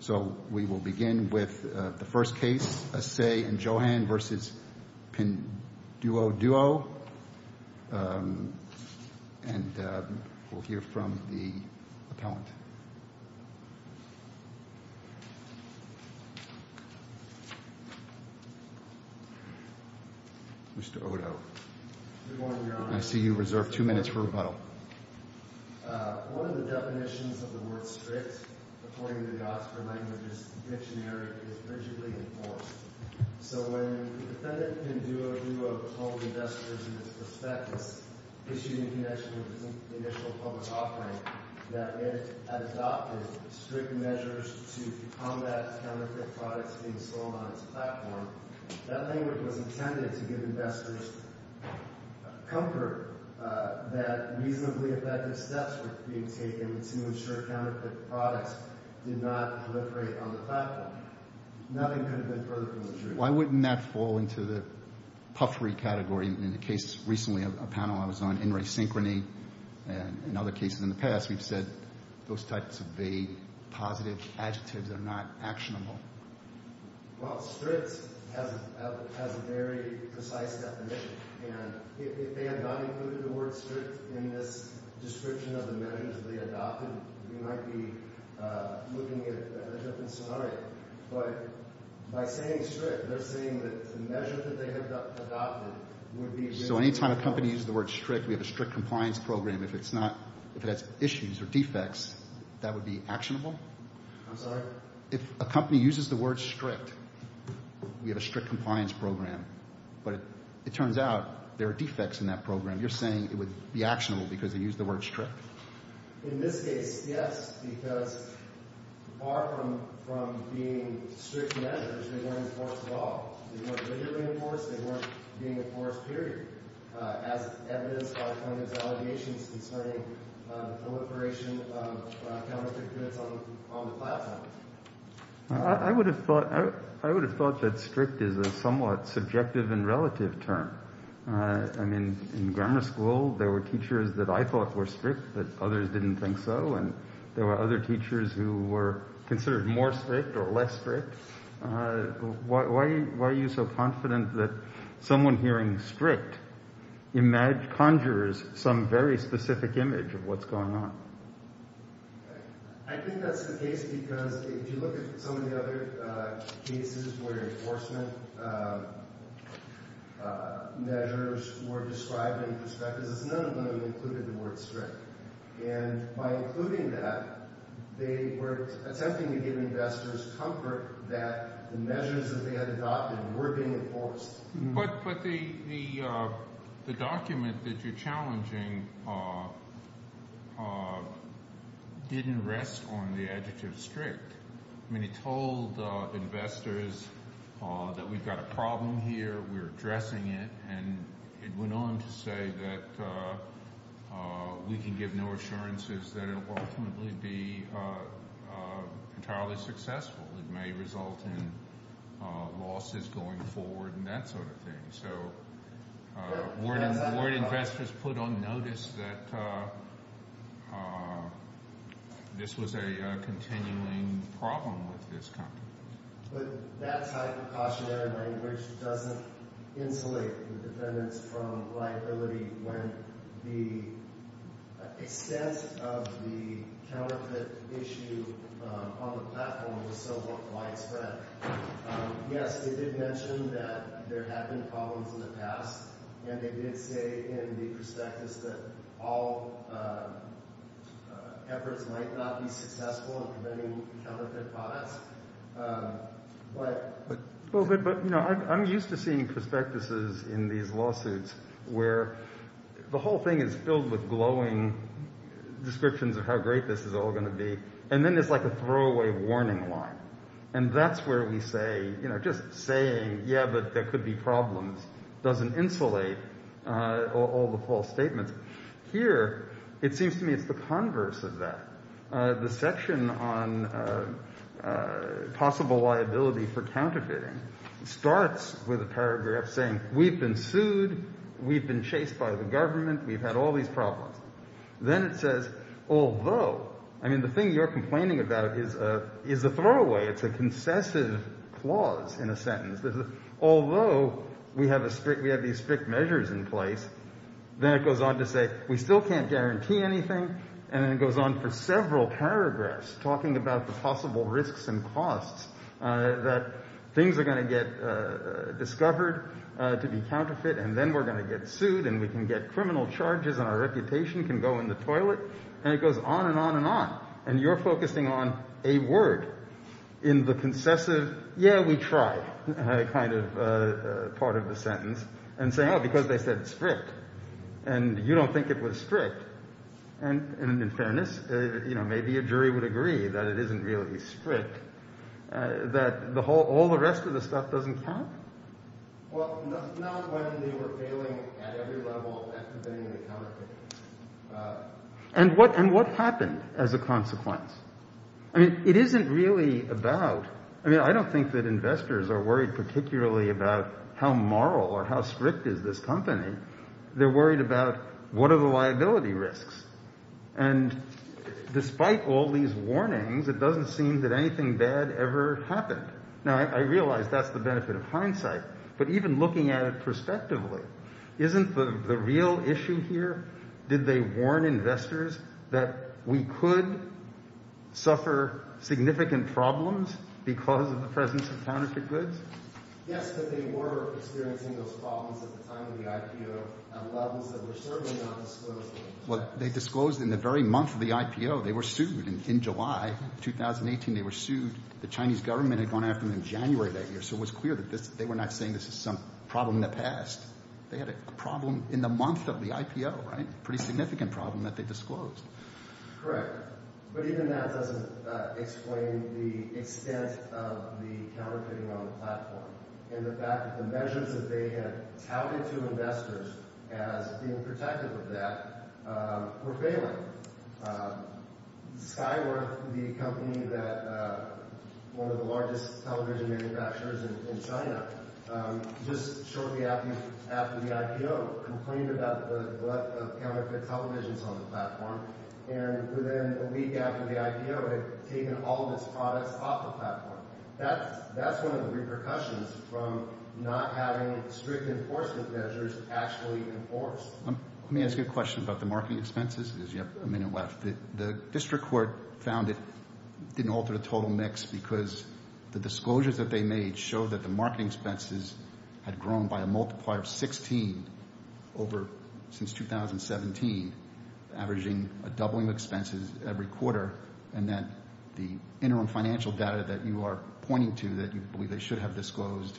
So we will begin with the first case, Asay v. Johan v. Pinduoduo, and we'll hear from the appellant. Mr. Odo. Good morning, Your Honor. I see you reserve two minutes for rebuttal. One of the definitions of the word strict, according to the Oxford Languages Dictionary, is rigidly enforced. So when the defendant, Pinduoduo, told investors in his prospectus, issued in connection with his initial public offering, that it had adopted strict measures to combat counterfeit products being sold on its platform, that language was intended to give investors comfort that reasonably effective steps were being taken to ensure counterfeit products did not proliferate on the platform. Nothing could have been further from the truth. Why wouldn't that fall into the puffery category? In the case recently of a panel I was on, in resynchrony, and in other cases in the past, we've said those types of vague, positive adjectives are not actionable. Well, strict has a very precise definition, and if they had not included the word strict in this description of the measures they adopted, we might be looking at a different scenario. But by saying strict, they're saying that the measures that they have adopted would be rigidly enforced. So any time a company uses the word strict, we have a strict compliance program, if it's not, if it has issues or defects, that would be actionable? I'm sorry? If a company uses the word strict, we have a strict compliance program, but it turns out there are defects in that program. You're saying it would be actionable because they used the word strict? In this case, yes, because apart from being strict measures, they weren't enforced at all. They weren't rigidly enforced, they weren't being enforced, period, as evidenced by Clinton's allegations concerning proliferation of counterfeit goods on the platform. I would have thought that strict is a somewhat subjective and relative term. I mean, in grammar school, there were teachers that I thought were strict, but others didn't think so, and there were other teachers who were considered more strict or less strict. Why are you so confident that someone hearing strict conjures some very specific image of what's going on? I think that's the case because if you look at some of the other cases where enforcement measures were described in perspectives, it's none of them included the word strict, and by including that, they were attempting to give investors comfort that the measures that they had adopted were being enforced. But the document that you're challenging didn't rest on the adjective strict. I mean, it told investors that we've got a problem here, we're addressing it, and it went on to say that we can give no assurances that it will ultimately be entirely successful. It may result in losses going forward and that sort of thing. So word investors put on notice that this was a continuing problem with this company. But that type of cautionary language doesn't insulate the defendants from liability when the extent of the counterfeit issue on the platform was so widespread. Yes, they did mention that there had been problems in the past, and they did say in the prospectus that all efforts might not be successful in preventing counterfeit products. But I'm used to seeing prospectuses in these lawsuits where the whole thing is filled with glowing descriptions of how great this is all going to be, and then it's like a throwaway warning line. And that's where we say, you know, just saying, yeah, but there could be problems doesn't insulate all the false statements. Here, it seems to me it's the converse of that. The section on possible liability for counterfeiting starts with a paragraph saying, we've been sued, we've been chased by the government, we've had all these problems. Then it says, although, I mean, the thing you're complaining about is a throwaway. It's a concessive clause in a sentence. Although we have these strict measures in place, then it goes on to say, we still can't guarantee anything. And then it goes on for several paragraphs talking about the possible risks and costs that things are going to get discovered to be counterfeit, and then we're going to get sued, and we can get criminal charges, and our reputation can go in the toilet. And it goes on and on and on. And you're focusing on a word in the concessive, yeah, we tried. And they kind of part of the sentence and say, oh, because they said it's strict and you don't think it was strict. And in fairness, you know, maybe a jury would agree that it isn't really strict, that the whole all the rest of the stuff doesn't count. Well, not when they were failing at every level of activating the counterfeit. And what and what happened as a consequence? I mean, it isn't really about, I mean, I don't think that investors are worried particularly about how moral or how strict is this company. They're worried about what are the liability risks. And despite all these warnings, it doesn't seem that anything bad ever happened. Now, I realize that's the benefit of hindsight, but even looking at it prospectively, isn't the real issue here? Did they warn investors that we could suffer significant problems because of the presence of counterfeit goods? Yes, but they were experiencing those problems at the time of the IPO at levels that were certainly not disclosed. Well, they disclosed in the very month of the IPO. They were sued in July 2018. They were sued. The Chinese government had gone after them in January that year. So it was clear that they were not saying this is some problem in the past. They had a problem in the month of the IPO, right? Pretty significant problem that they disclosed. Correct, but even that doesn't explain the extent of the counterfeiting on the platform. And the fact that the measures that they had touted to investors as being protective of that were failing. Skyworth, the company that one of the largest television manufacturers in China, just shortly after the IPO, complained about the breadth of counterfeit televisions on the platform. And within a week after the IPO, it had taken all of its products off the platform. That's one of the repercussions from not having strict enforcement measures actually enforced. Let me ask you a question about the marketing expenses because you have a minute left. The district court found it didn't alter the total mix because the disclosures that they made show that the marketing expenses had grown by a multiplier of 16 over since 2017, averaging a doubling of expenses every quarter, and that the interim financial data that you are pointing to that you believe they should have disclosed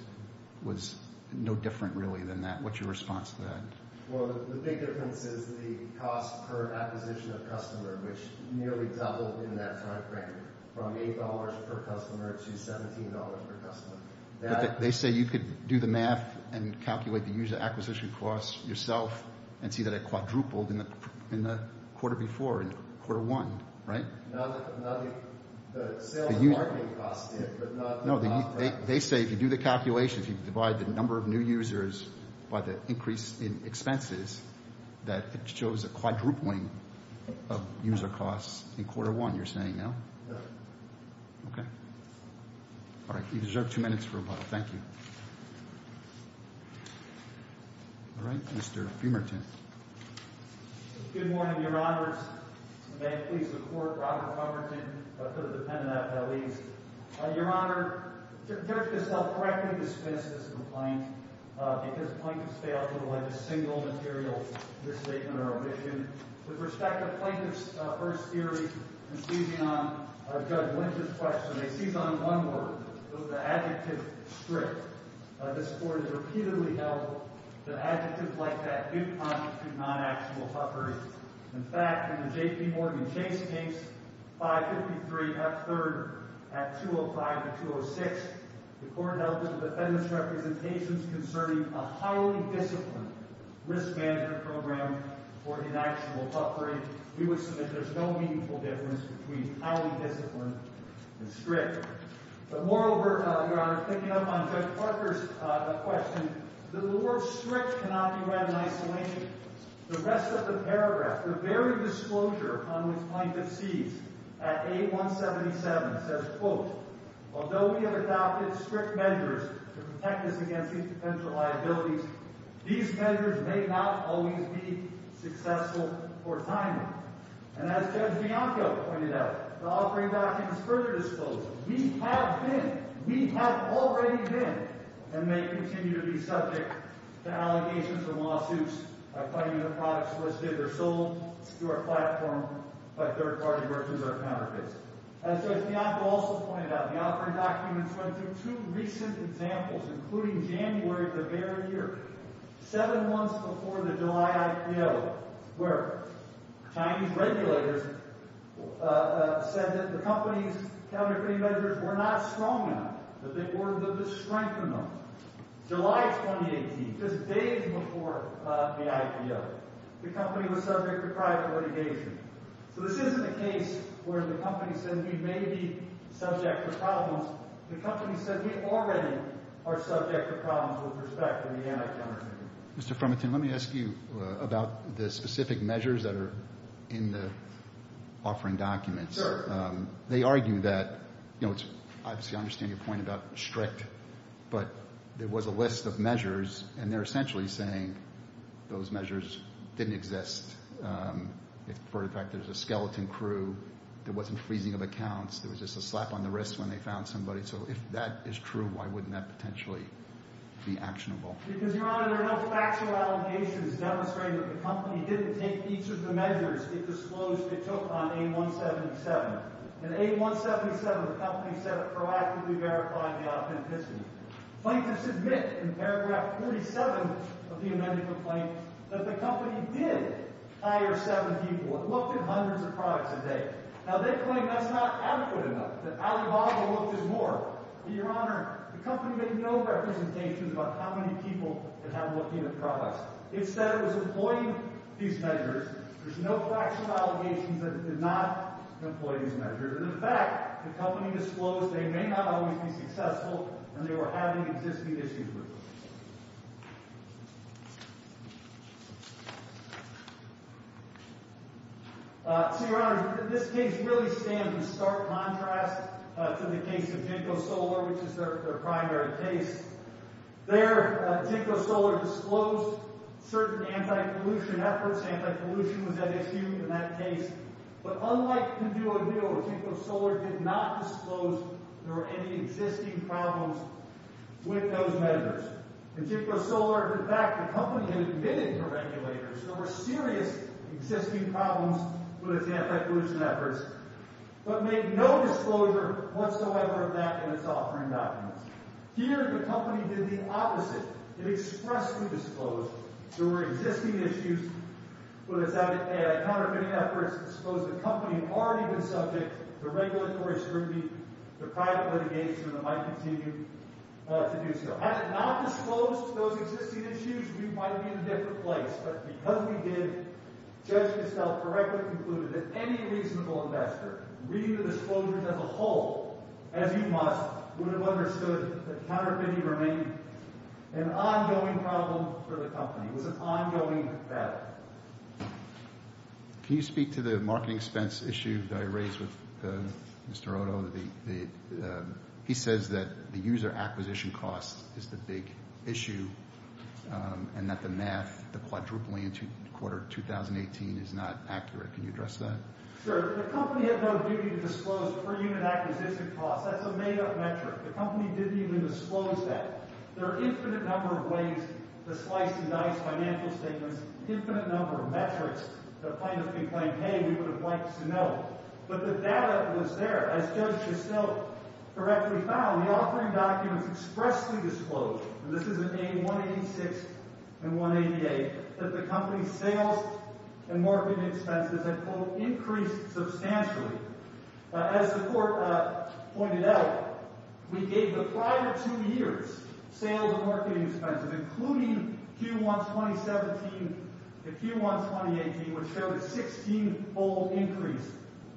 was no different really than that. What's your response to that? Well, the big difference is the cost per acquisition of customer, which nearly doubled in that time frame from $8 per customer to $17 per customer. They say you could do the math and calculate the user acquisition costs yourself and see that it quadrupled in the quarter before, in quarter one, right? No, no, the sales and marketing costs did, but not... No, they say if you do the calculations, you divide the number of new users by the increase in expenses, that it shows a quadrupling of user costs in quarter one, you're saying, no? No. Okay. All right. You deserve two minutes for a while. Thank you. All right, Mr. Fumerton. Good morning, your honors. May I please report, Robert Fumerton, for the defendant at that lease. Your honor, the judge has helped correctly dismiss this complaint because plaintiffs failed to collect a single material misstatement or omission. With respect to plaintiff's first theory, and seizing on Judge Lynch's question, I seize on one word, the adjective strict. This court has repeatedly held that adjectives like that do constitute non-actual huffering. In fact, in the JPMorgan Chase case, 553 F3rd at 205 to 206, the court held that the defendant's representations concerning a highly disciplined risk management program for inactual huffering, we would submit there's no meaningful difference between highly disciplined and strict. But moreover, your honor, picking up on Judge Parker's question, the word strict cannot be read in isolation. The rest of the paragraph, the very disclosure on which plaintiff sees at A177 says, quote, although we have adopted strict measures to protect us against potential liabilities, these measures may not always be successful or timely. And as Judge Bianco pointed out, the offering documents further disclose, we have been, we have already been, and may continue to be subject to allegations and lawsuits by putting the products listed or sold through our platform by third party merchants or counterfeits. As Judge Bianco also pointed out, the offering documents went through two recent examples, including January of the very year, seven months before the July IPO, where Chinese regulators said that the company's counterfeiting measures were not strong enough, that they were the strength of them. July 2018, just days before the IPO, the company was subject to private litigation. So this isn't a case where the company says we may be subject to problems. The company says we already are subject to problems with respect to the anti-counterfeiting. Mr. Freminton, let me ask you about the specific measures that are in the offering documents. Sure. They argue that, you know, it's obviously, I understand your point about strict, but there was a list of measures, and they're essentially saying those measures didn't exist. For the fact there's a skeleton crew, there wasn't freezing of accounts, there was just a slap on the wrist when they found somebody. So if that is true, why wouldn't that potentially be actionable? Because, Your Honor, there are no factual allegations demonstrating that the company didn't take each of the measures it disclosed it took on A177. In A177, the company said it proactively verified the authenticity. Plaintiffs admit in paragraph 47 of the amended complaint that the company did hire seven people and looked at hundreds of products a day. Now, they claim that's not adequate enough, that Alibaba looked at more. But, Your Honor, the company made no representations about how many people it had looking at the products. It said it was employing these measures. There's no factual allegations that it did not employ these measures. And in fact, the company disclosed they may not always be successful and they were having existing issues with them. So, Your Honor, this case really stands in stark contrast to the case of Jinko Solar, which is their primary case. There, Jinko Solar disclosed certain anti-pollution efforts. Anti-pollution was at issue in that case. But unlike Kuduodilo, Jinko Solar did not disclose there were any existing problems with those measures. In Jinko Solar, in fact, the company had admitted to regulators there were serious existing problems with its anti-pollution efforts, but made no disclosure whatsoever of that in its offering documents. Here, the company did the opposite. It expressly disclosed there were existing issues with its counterfeiting efforts. It disclosed the company had already been subject to regulatory scrutiny, to private litigation that might continue to do so. Had it not disclosed those existing issues, we might be in a different place. But because we did, Judge Castell correctly concluded that any reasonable investor reading the disclosures as a whole, as you must, would have understood that counterfeiting remained an ongoing problem for the company. It was an ongoing battle. Can you speak to the marketing expense issue that I raised with Mr. Odo? The... He says that the user acquisition cost is the big issue, and that the math, the quadrupling in the quarter of 2018 is not accurate. Can you address that? Sure. The company had no duty to disclose per-unit acquisition costs. That's a made-up metric. The company didn't even disclose that. There are infinite number of ways to slice and dice financial statements, infinite number of metrics that kind of complained, hey, we would have liked this to know. But the data was there. As Judge Castell correctly found, the offering documents expressly disclosed, and this is in A186 and 188, that the company's sales and marketing expenses had, quote, increased substantially. As the Court pointed out, we gave the prior two years sales and marketing expenses, including Q1 2017 and Q1 2018, which showed a 16-fold increase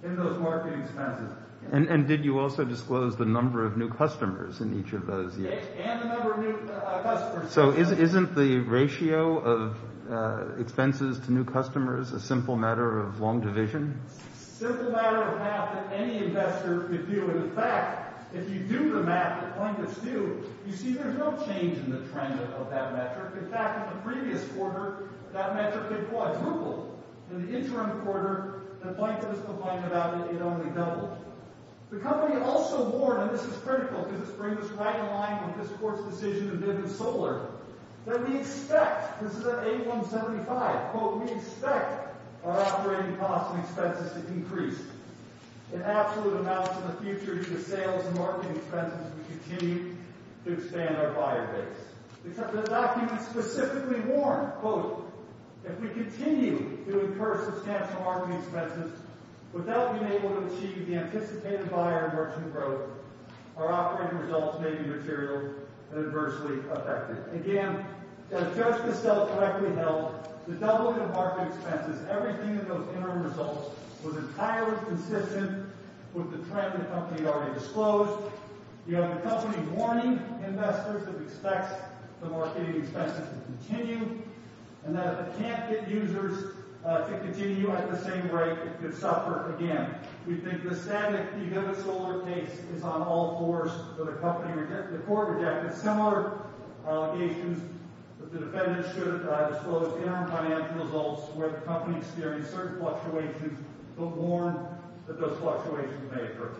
in those marketing expenses. And did you also disclose the number of new customers in each of those years? And the number of new customers. So isn't the ratio of expenses to new customers a simple matter of long division? Simple matter of math that any investor could do. And in fact, if you do the math that plaintiffs do, you see there's no change in the trend of that metric. In fact, in the previous quarter, that metric had quadrupled. In the interim quarter, the plaintiffs complained about it, it only doubled. The company also warned, and this is critical, because this brings us right in line with this Court's decision to bid in solar, that we expect, this is at A175, quote, we expect our operating costs and expenses to increase in absolute amounts in the future due to sales and marketing expenses we continue to expand our buyer base. Except the documents specifically warn, quote, if we continue to incur substantial marketing expenses without being able to achieve the anticipated buyer and merchant growth, our operating results may be material and adversely affected. Again, to judge the sales correctly held, the doubling of marketing expenses, everything in those interim results, was entirely consistent with the trend the company had already disclosed. You have the company warning investors, it expects the marketing expenses to continue, and that if it can't get users to continue at the same rate, it could suffer again. We think the static, you give a solar case, is on all fours for the company. The Court rejected similar allegations that the defendants should disclose interim financial results where the company experienced certain fluctuations, but warned that those fluctuations may occur.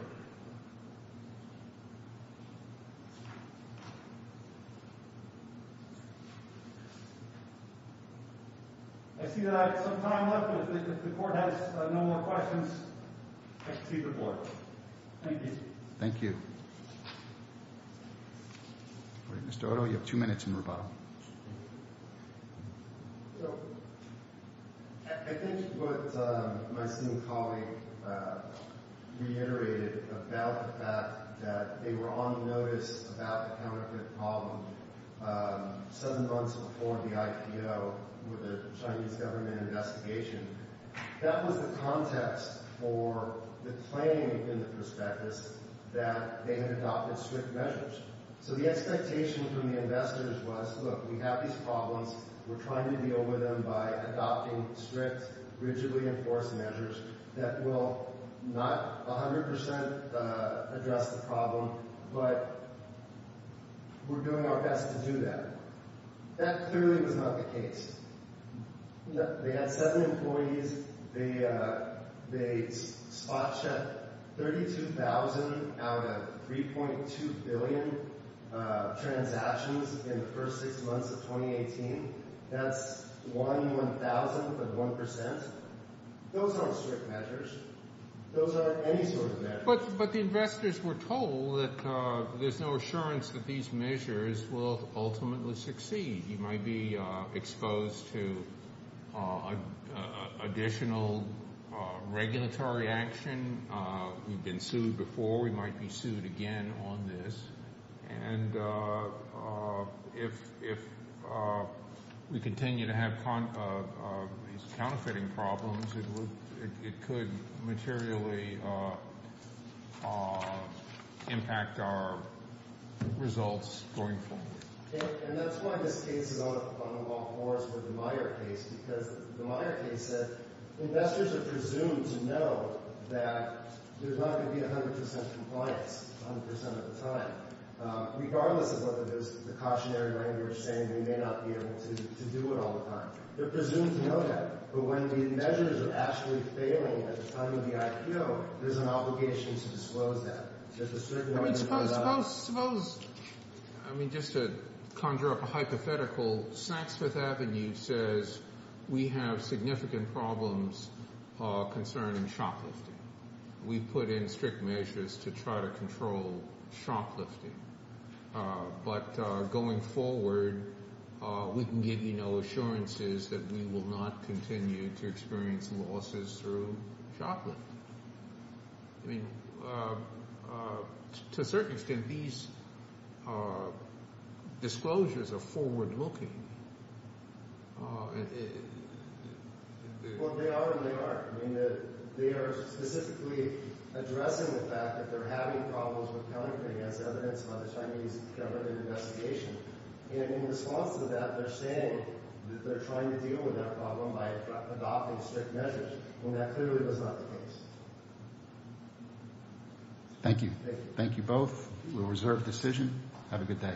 I see that I have some time left, but if the Court has no more questions, I can see the board. Thank you. Thank you. Mr. Oto, you have two minutes in rebuttal. So, I think what my senior colleague reiterated about the fact that they were on notice about the counterfeit problem seven months before the IPO with the Chinese government investigation, that was the context for the claim in the prospectus that they had adopted strict measures. So the expectation from the investors was, look, we have these problems, we're trying to deal with them by adopting strict, rigidly enforced measures that will not 100% address the problem, but we're doing our best to do that. That clearly was not the case. They had seven employees, they spot-checked 32,000 out of 3.2 billion transactions in the first six months of 2018. That's one one-thousandth of one percent. Those aren't strict measures. Those aren't any sort of measures. But the investors were told that there's no assurance that these measures will ultimately succeed. You might be exposed to additional regulatory action. We've been sued before. We might be sued again on this. And if we continue to have these counterfeiting problems, it could materially impact our results going forward. And that's why this case is on the long horse with the Meyer case, because the Meyer case said investors are presumed to know that there's not going to be 100% compliance 100% of the time. Regardless of what the cautionary language is saying, they may not be able to do it all the time. They're presumed to know that. But when the measures are actually failing at the time of the IPO, there's an obligation to disclose that. There's a certain way to do that. I mean, just to conjure up a hypothetical, Saks Fifth Avenue says, we have significant problems concerning shoplifting. We've put in strict measures to try to control shoplifting. But going forward, we can give you no assurances that we will not continue to experience losses through shoplifting. I mean, to a certain extent, these disclosures are forward-looking. Well, they are and they aren't. I mean, they are specifically addressing the fact that they're having problems with counterfeiting as evidenced by the Chinese government investigation. And in response to that, they're saying that they're trying to deal with that problem by adopting strict measures. And that clearly was not the case. Thank you. Thank you both. We'll reserve decision. Have a good day.